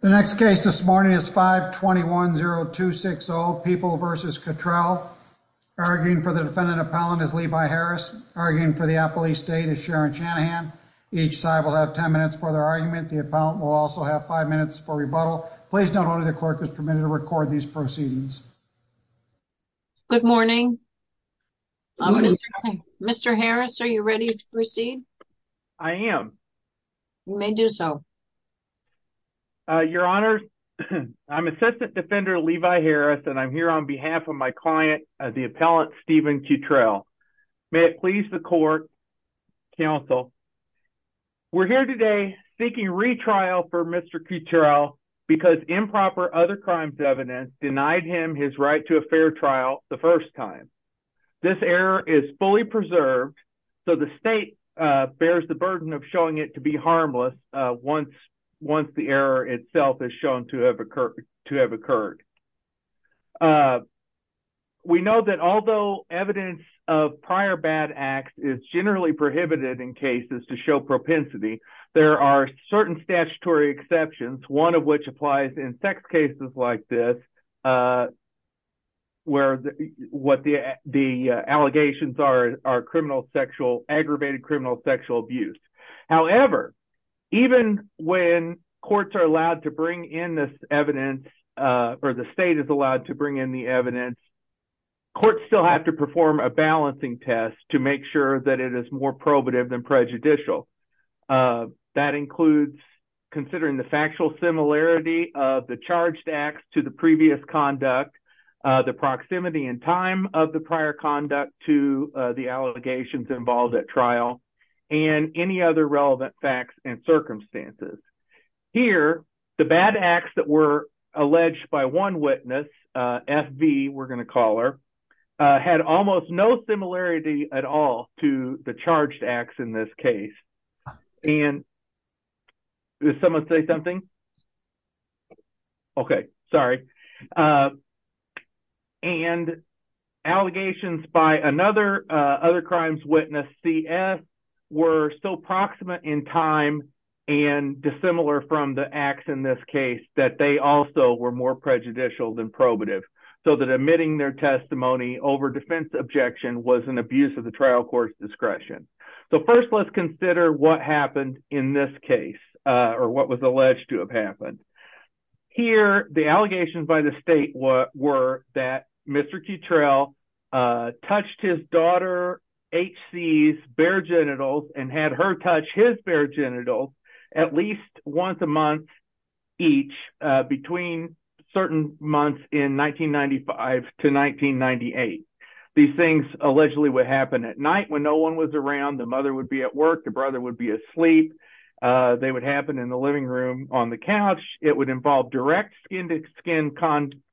The next case this morning is 5-21-0-2-6-0 People v. Cuttrell. Arguing for the defendant appellant is Levi Harris. Arguing for the appellee state is Sharon Shanahan. Each side will have 10 minutes for their argument. The appellant will also have five minutes for rebuttal. Please note only the clerk is permitted to record these proceedings. Good morning. Mr. Harris, are you ready to proceed? I am. You may do so. Your Honor, I am Assistant Defender Levi Harris and I am here on behalf of my client, the appellant Stephen Cuttrell. May it please the court, counsel, we are here today seeking retrial for Mr. Cuttrell because improper other crimes evidence denied him his right to a fair trial the first time. This error is fully preserved, so the state bears the burden of showing it to once the error itself is shown to have occurred. We know that although evidence of prior bad acts is generally prohibited in cases to show propensity, there are certain statutory exceptions, one of which applies in sex cases like this where the allegations are aggravated criminal sexual abuse. However, even when courts are allowed to bring in this evidence or the state is allowed to bring in the evidence, courts still have to perform a balancing test to make sure that it is more probative than prejudicial. That includes considering the factual similarity of the charged acts to the previous conduct, the proximity and time of the prior conduct to the allegations involved at trial, and any other relevant facts and circumstances. Here, the bad acts that were alleged by one witness, FV we are going to call her, had almost no similarity at all to the charged acts in this case. Did someone say something? Okay. Sorry. And allegations by another crimes witness, CS, were so proximate in time and dissimilar from the acts in this case that they also were more prejudicial than probative. So that admitting their testimony over defense objection was an abuse of the trial court's case or what was alleged to have happened. Here, the allegations by the state were that Mr. Cutrell touched his daughter's bare genitals and had her touch his bare genitals at least once a month each between certain months in 1995 to 1998. These things allegedly would happen at night when no one was around. The mother would be at work. The brother would be asleep. They would happen in the living room on the couch. It would involve direct skin-to-skin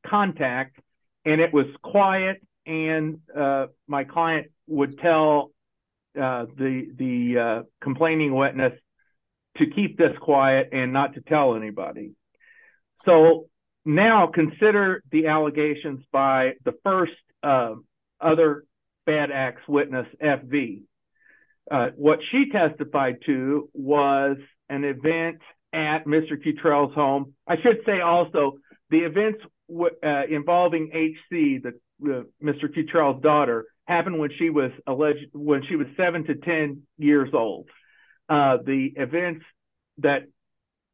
contact, and it was quiet, and my client would tell the complaining witness to keep this quiet and not to tell anybody. So now consider the allegations by the first other bad acts witness, FV. What she testified to was an event at Mr. Cutrell's home. I should say also the events involving HC, Mr. Cutrell's when she was 7 to 10 years old. The events that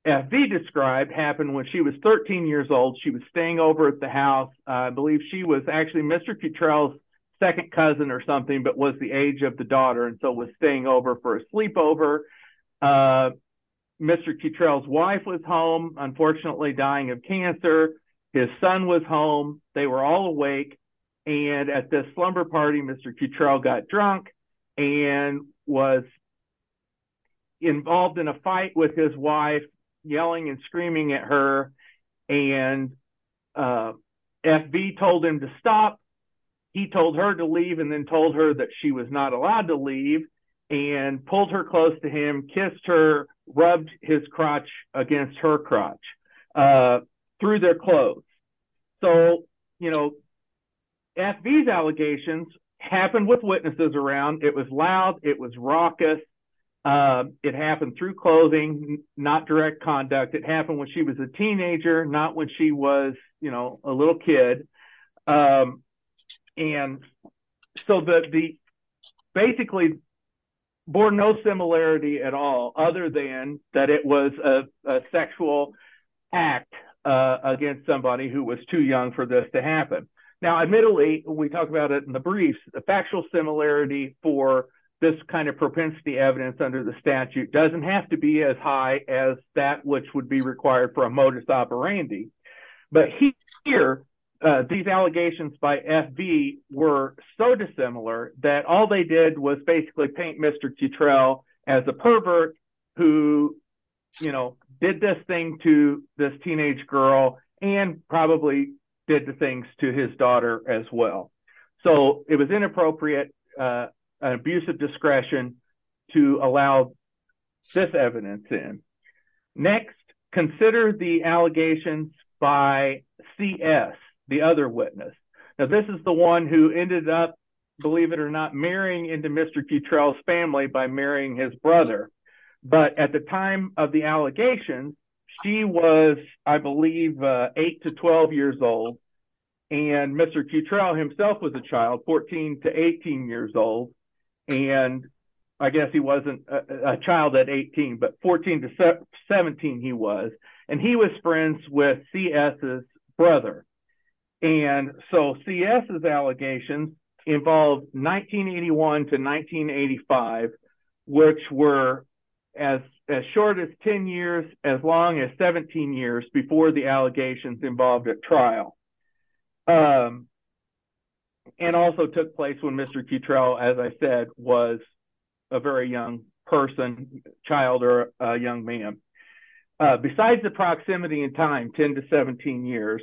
FV described happened when she was 13 years old. She was staying over at the house. I believe she was actually Mr. Cutrell's second cousin or something but was the age of the daughter and so was staying over for a sleepover. Mr. Cutrell's wife was home, unfortunately dying of cancer. His son was home. They were all awake, and at this slumber party, Mr. Cutrell got drunk and was involved in a fight with his wife, yelling and screaming at her. FV told him to stop. He told her to leave and then told her that she was not allowed to leave and pulled her close to him, kissed her, rubbed his crotch against her crotch through their clothes. So FV's allegations happened with witnesses around. It was loud. It was raucous. It happened through clothing, not direct conduct. It happened when she was a teenager, not when she was a little kid. Basically, bore no similarity at all other than that it was a sexual act against somebody who was too young for this to happen. Now, admittedly, when we talk about it in the briefs, the factual similarity for this kind of propensity evidence under the statute doesn't have to be as high as that which would be required for a modus operandi. But here, these allegations by FV were so dissimilar that all they did was paint Mr. Cutrell as a pervert who did this thing to this teenage girl and probably did the things to his daughter as well. So it was inappropriate, abusive discretion to allow this evidence in. Next, consider the allegations by CS, the other witness. This is the one who ended up, believe it or not, marrying into Mr. Cutrell's family by marrying his brother. But at the time of the allegations, she was, I believe, 8 to 12 years old. And Mr. Cutrell himself was a child, 14 to 18 years old. And I guess he wasn't a child at 18, but 14 to 17 he was. And he was friends with CS's brother. And so, CS's allegations involved 1981 to 1985, which were as short as 10 years, as long as 17 years before the allegations involved a trial. And also took place when Mr. Cutrell, as I said, was a very young person, child or a young man. Besides the proximity in time, 10 to 17 years,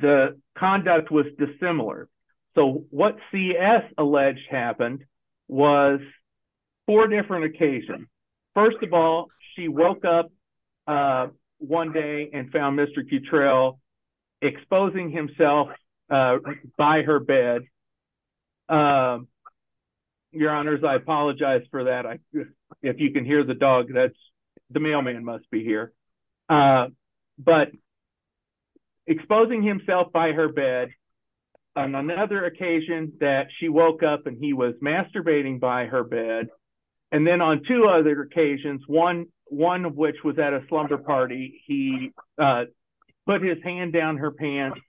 the conduct was dissimilar. So what CS alleged happened was four different occasions. First of all, she woke up one day and found Mr. Cutrell exposing himself by her bed. Your honors, I apologize for that. If you can hear the dog, the mailman must be here. But exposing himself by her bed, on another occasion that she woke up and he was masturbating by her bed. And then on two other occasions, one of which was at a slumber party, he put his hand down her pants.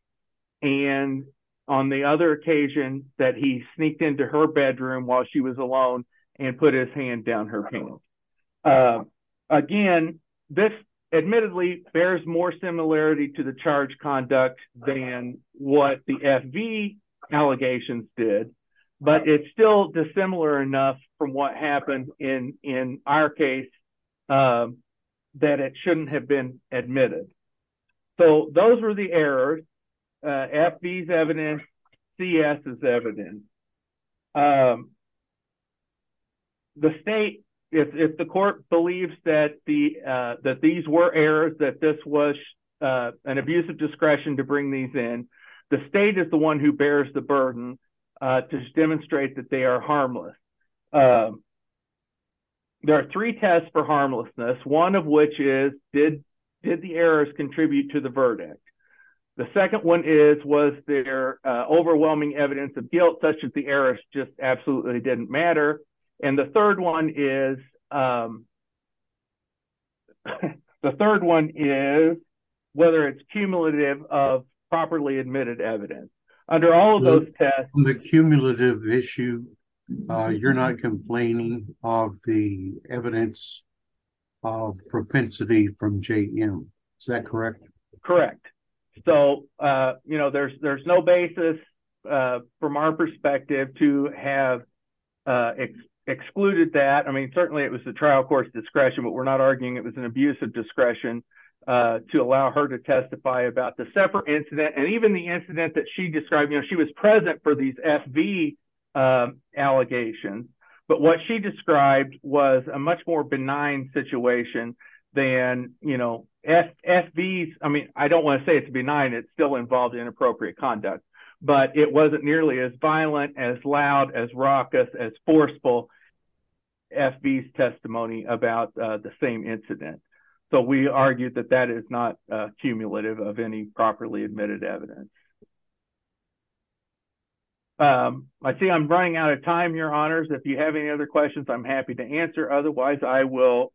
And on the other occasion that he sneaked into her bedroom while she was alone and put his hand down her pants. Again, this admittedly bears more similarity to the charge than what the FV allegations did. But it's still dissimilar enough from what happened in our case that it shouldn't have been admitted. So those were the errors. FV is evidence, CS is evidence. The state, if the court believes that these were errors, that this was an abuse of discretion to bring these in, the state is the one who bears the burden to demonstrate that they are harmless. There are three tests for harmlessness, one of which is did the errors contribute to the verdict? The second one is was there overwhelming evidence of guilt such as the errors just absolutely didn't matter. And the third one is whether it's cumulative of properly admitted evidence. Under all of those tests, the cumulative issue, you're not complaining of the evidence of propensity from JM. Is that correct? Correct. So there's no basis from our perspective to have excluded that. Certainly it was the trial court's discretion, but we're not arguing it was an abuse of discretion to allow her to testify about the separate incident. And even the incident that she described, she was present for these FV allegations. But what she described was a much more situation than, you know, FV, I don't want to say it's benign, it's still involved in appropriate conduct. But it wasn't nearly as violent, as loud, as raucous, as forceful as FV's testimony about the same incident. So we argue that that is not cumulative of any properly admitted evidence. I see I'm running out of time, your honors. If you have any other questions, I'm happy to answer. Otherwise, I will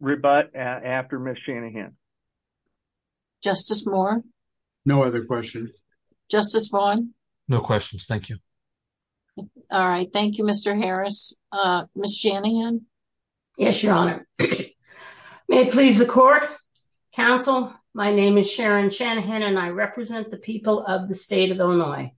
rebut after Ms. Shanahan. Justice Moore? No other questions. Justice Vaughn? No questions. Thank you. All right. Thank you, Mr. Harris. Ms. Shanahan? Yes, your honor. May it please the court, counsel. My name is Sharon Shanahan and I represent the people of the state of Illinois.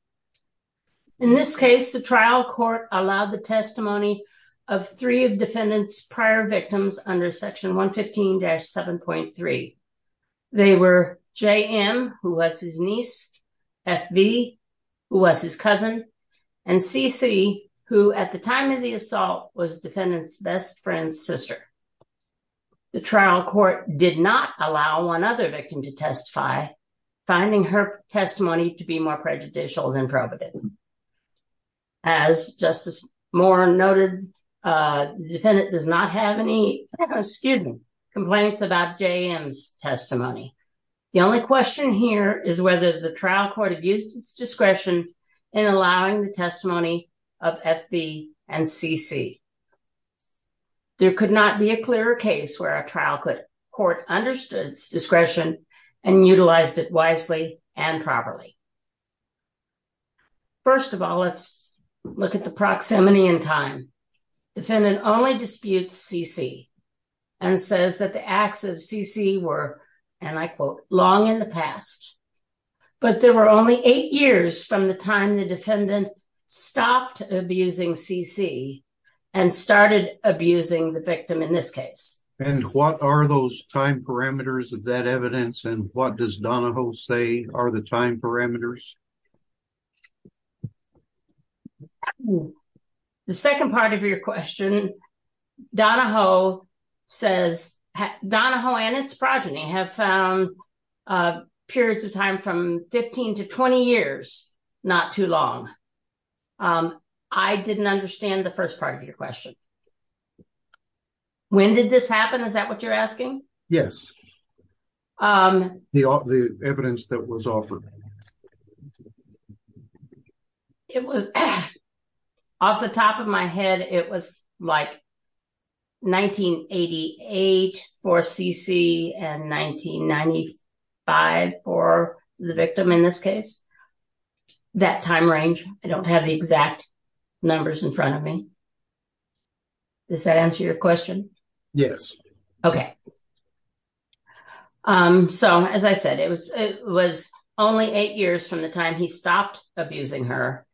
In this case, the trial court allowed the testimony of three of defendant's prior victims under section 115-7.3. They were JM, who was his niece, FV, who was his cousin, and CC, who at the time of the assault was defendant's best friend's sister. The trial court did not allow one other victim to testify, finding her testimony to be more prejudicial than probative. As Justice Moore noted, the defendant does not have any, excuse me, complaints about JM's testimony. The only question here is whether the trial court abused its discretion in allowing the testimony of FV and CC. There could not be a clearer case where a trial court understood its discretion and utilized it wisely and properly. First of all, let's look at the proximity in time. Defendant only disputes CC and says that the acts of CC were, and I quote, long in the past, but there were only eight years from the time the time parameters of that evidence, and what does Donahoe say are the time parameters? The second part of your question, Donahoe says, Donahoe and its progeny have found periods of time from 15 to 20 years not too long. I didn't understand the first part of your question. When did this happen? Is that what you're asking? Yes. The evidence that was offered. It was off the top of my head. It was like 1988 for CC and 1995 for the victim in this case. That time range, I don't have the exact numbers in front of me. Does that answer your question? Yes. Okay. So as I said, it was only eight years from the time he stopped abusing her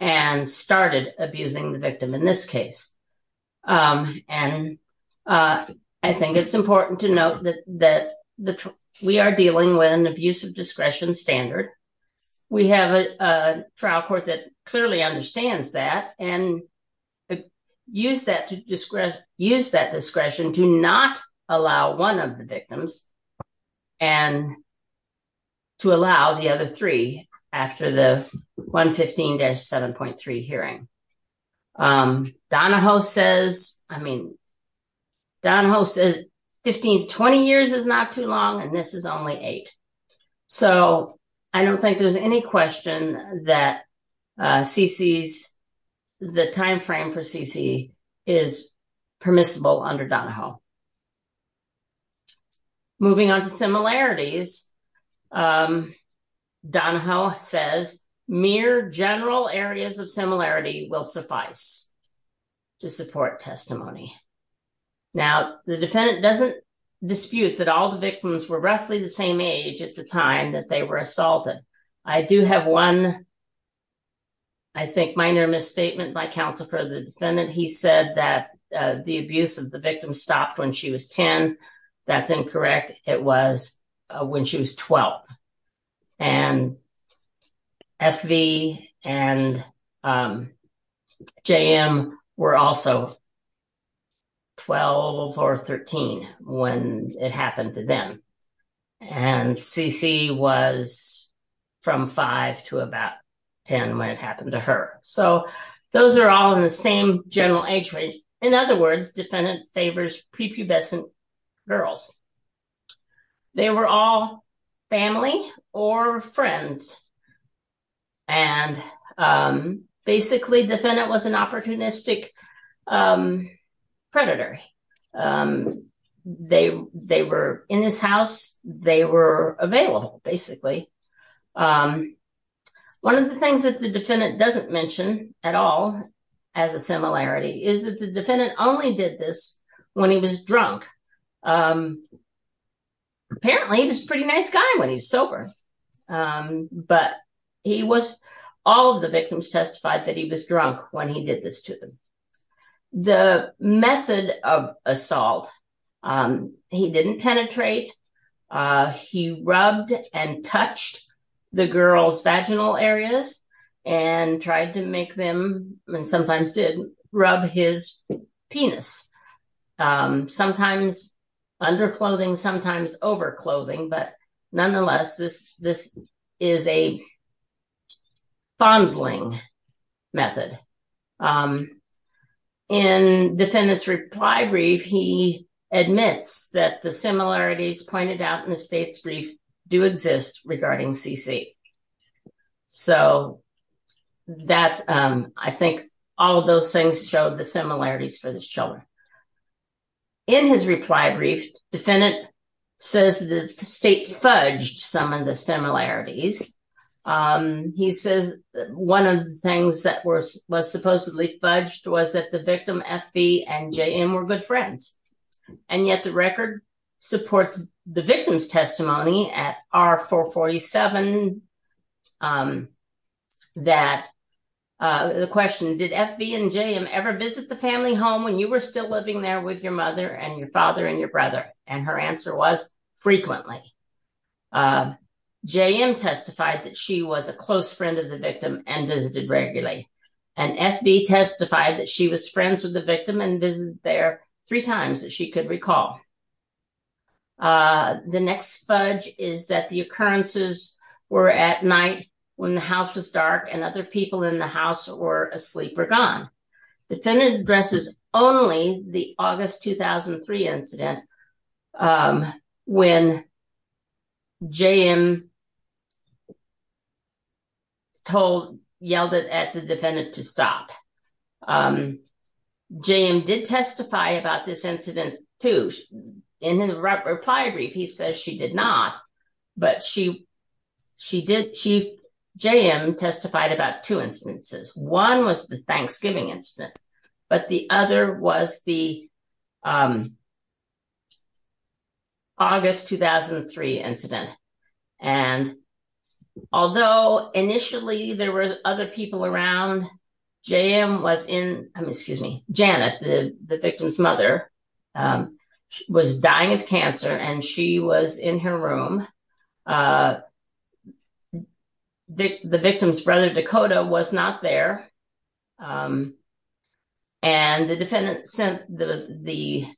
and started abusing the victim in this case. I think it's important to note that we are discretion standard. We have a trial court that clearly understands that and use that discretion to not allow one of the victims and to allow the other three after the 115-7.3 hearing. Donahoe says, I mean, Donahoe says 15, 20 years is not too long and this is only eight. So I don't think there's any question that CC's, the timeframe for CC is permissible under Donahoe. Moving on to similarities, Donahoe says, mere general areas of similarity will suffice to support testimony. Now the defendant doesn't dispute that all the victims were roughly the same age at the time that they were assaulted. I do have one, I think minor misstatement by counsel for the defendant. He said that the abuse of the victim stopped when she was 10. That's incorrect. It was when she was 12 and FV and JM were also 12 or 13 when it happened to them and CC was from five to about 10 when it happened to her. So those are all in the same general age in other words, defendant favors prepubescent girls. They were all family or friends and basically defendant was an opportunistic predator. They were in this house, they were available basically. One of the things that the defendant doesn't mention at all as a similarity is that the defendant only did this when he was drunk. Apparently he was a pretty nice guy when he was sober, but he was, all of the victims testified that he was drunk when he did this to them. The method of assault, he didn't penetrate, he rubbed and touched the girl's vaginal areas and tried to make them and sometimes did rub his penis. Sometimes under clothing, sometimes over clothing, but nonetheless, this is a fondling method. In defendant's reply brief, he admits that the similarities pointed out in the state's brief do exist regarding CC. So that, I think all of those things showed the similarities for these children. In his reply brief, defendant says the state fudged some of the similarities. He says one of the things that was supposedly fudged was that the victim FV and JM were good friends. And yet the record supports the victim's testimony at R447 that the question, did FV and JM ever visit the family home when you were still living there with your mother and your father and your brother? And her answer was frequently. JM testified that she was a close friend of the victim and visited regularly. And FV testified that she was friends with the victim and visited there three times that she could recall. The next fudge is that the occurrences were at night when the house was dark and other people in the house were asleep or gone. Defendant addresses only the incident when JM yelled at the defendant to stop. JM did testify about this incident too. In the reply brief, he says she did not, but JM testified about two incidents. But the other was the August 2003 incident. And although initially there were other people around, JM was in, excuse me, Janet, the victim's mother was dying of cancer and she was in her room. The victim's brother Dakota was not there. And the defendant sent the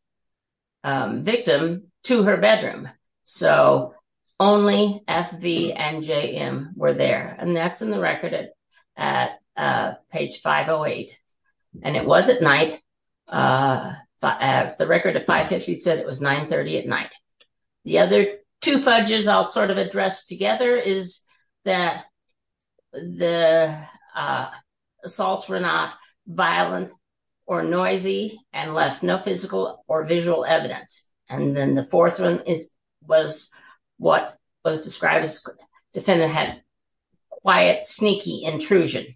victim to her bedroom. So only FV and JM were there. And that's in the record at page 508. And it was at night. The record at 550 said it was 930 at night. The other two fudges I'll sort of address together is that the assaults were not violent or noisy and left no physical or visual evidence. And then the fourth one was what was described as defendant had quiet, sneaky intrusion.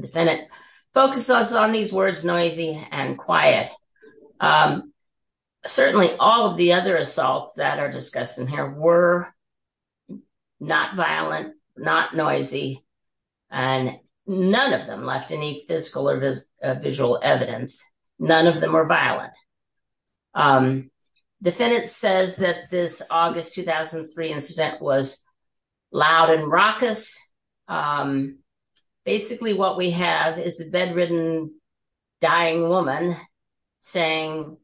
Defendant focuses on these words, noisy and quiet. Certainly all of the other assaults that are discussed in here were not violent, not noisy, and none of them left any physical or visual evidence. None of them were violent. The defendant says that this August 2003 incident was loud and raucous. Basically what we have is a bedridden dying woman saying,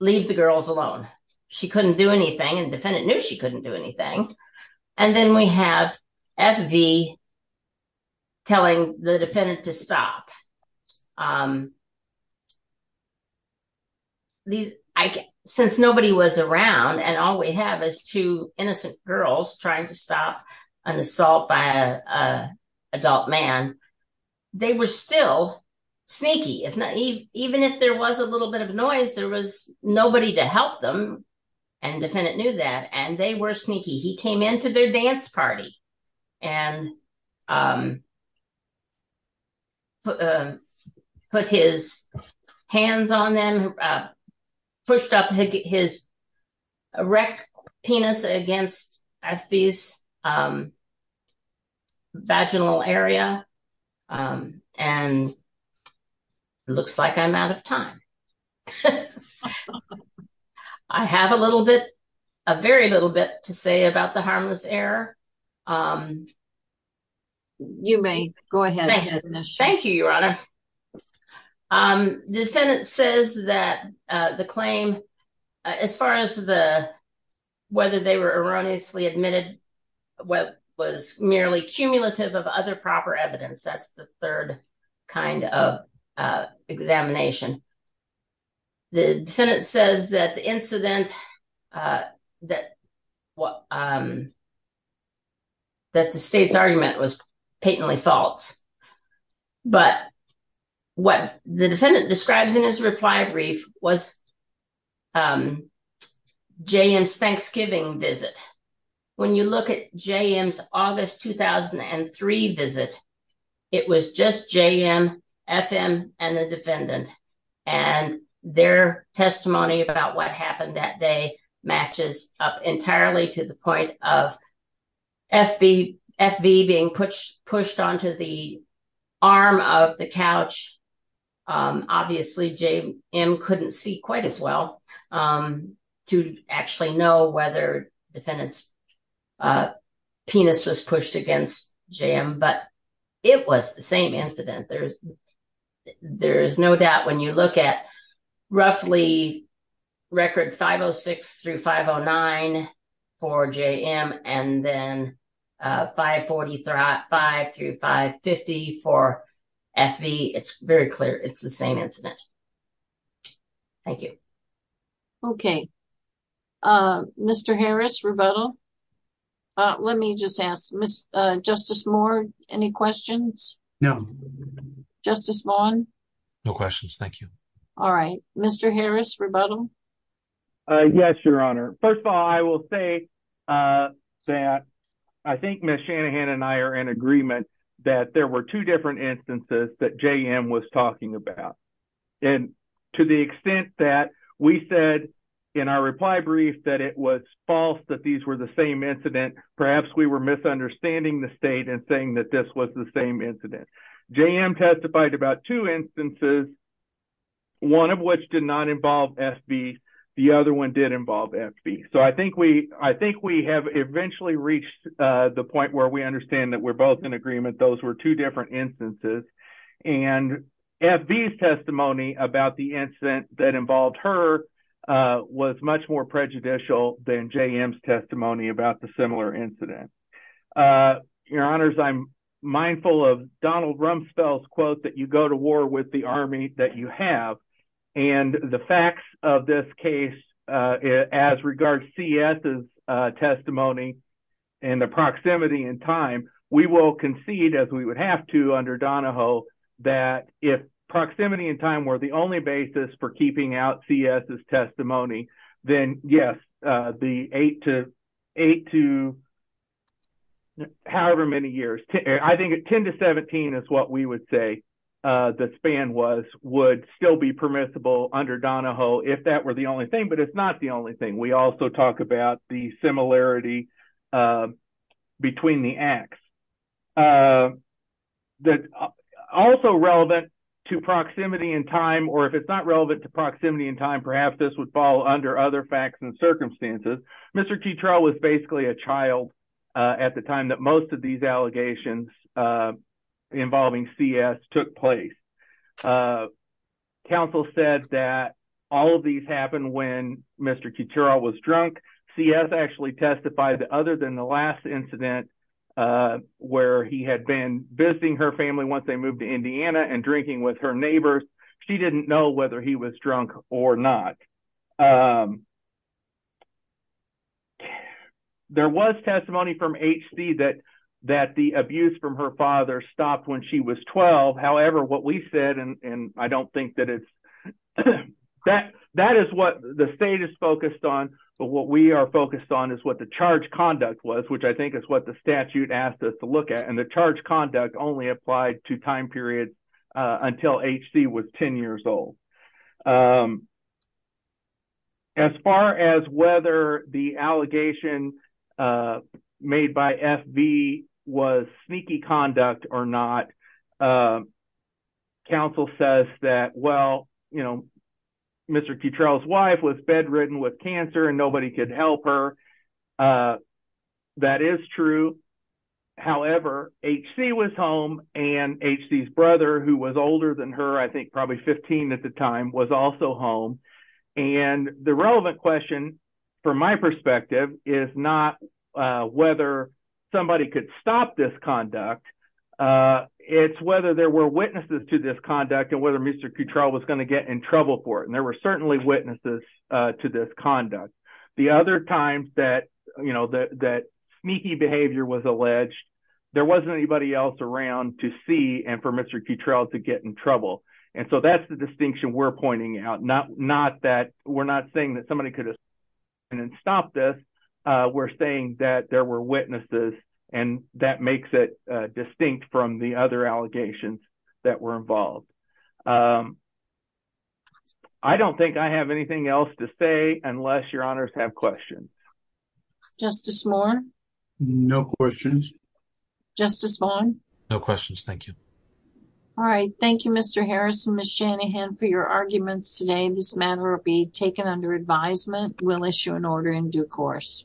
leave the girls alone. She couldn't do anything and defendant knew she couldn't do anything. And then we have FV telling the defendant to stop. Since nobody was around and all we have is two innocent girls trying to stop an assault by an adult man, they were still sneaky. Even if there was a little bit of noise, there was nobody to help them and defendant knew that and they were quiet. Put his hands on them, pushed up his erect penis against FV's vaginal area and it looks like I'm out of time. I have a little bit, a very little bit to say about the harmless error. You may go ahead. Thank you, Your Honor. The defendant says that the claim, as far as the, whether they were erroneously admitted, what was merely cumulative of other proper evidence, that's the third kind of examination. The defendant says that the incident, that the state's argument was patently false. But what the defendant describes in his reply brief was JM's Thanksgiving visit. When you look at JM's August 2003 visit, it was just JM, FM, and the defendant and their testimony about what happened that day matches up entirely to the point of FV being pushed onto the arm of the couch. Obviously, JM couldn't see quite as well to actually know whether defendant's penis was pushed against JM, but it was the same incident. There is no doubt when you look at roughly record 506 through 509 for JM and then 540 through 550 for FV, it's very clear it's the same incident. Thank you. Okay, Mr. Harris, rebuttal? Let me just ask, Justice Moore, any questions? No. Justice Vaughn? No questions, thank you. All right. Mr. Harris, rebuttal? Yes, Your Honor. First of all, I will say that I think Ms. Shanahan and I are in agreement that there were two different instances that JM was talking about. To the extent that we said in our reply brief that it was false that these were the same incident, perhaps we were misunderstanding the state and saying that this was the same incident. JM testified about two instances, one of which did not involve FV. The other one did involve FV. I think we have eventually reached the point where we understand that we are both in agreement that those were two different instances. FV's testimony about the incident that involved her was much more prejudicial than JM's testimony about the similar incident. Your Honors, I am mindful of Donald Rumsfeld's quote that you go to war with the army that you concede, as we would have to under Donahoe, that if proximity and time were the only basis for keeping out CS's testimony, then yes, the eight to however many years, I think 10 to 17 is what we would say the span was, would still be permissible under Donahoe if that were the only thing. But it is not the only thing. We also talk about the similarity between the acts. It is also relevant to proximity and time, or if it is not relevant to proximity and time, perhaps this would fall under other facts and circumstances. Mr. Keturah was basically a child at the time that most of these allegations involving CS took place. Counsel said that all of these happened when Mr. Keturah was drunk. CS testified that other than the last incident where he had been visiting her family once they moved to Indiana and drinking with her neighbors, she did not know whether he was drunk or not. There was testimony from HC that the abuse from her father stopped when she was 12. However, what we said, and I don't think that it is, that is what the state is focused on, but what we are focused on is what the charge conduct was, which I think is what the statute asked us to look at. The charge conduct only applied to time periods until HC was 10 years old. As far as whether the allegation made by FV was sneaky conduct or not, counsel says that Mr. Keturah's wife was bedridden with cancer and nobody could help her. That is true. However, HC was home and HC's brother, who was older than her, I think probably 15 at the time, was also home. The relevant question, from my perspective, is not whether somebody could stop this conduct. It is whether there were witnesses to this conduct and whether Mr. Keturah was going to get in trouble for it. There were certainly witnesses to this conduct. The other times that sneaky behavior was alleged, there was not anybody else around to see and for Mr. Keturah to get in trouble. That is the distinction we are pointing out. We are not saying that somebody could have stopped this. We are saying that there were witnesses and that makes it distinct from the other allegations that were involved. I do not think I have anything else to say unless your honors have questions. Justice Moore? No questions. Justice Vaughn? No questions. Thank you. All right. Thank you Mr. Harris and Ms. Shanahan for your arguments today. This matter will be taken under advisement. We will issue an order in due course.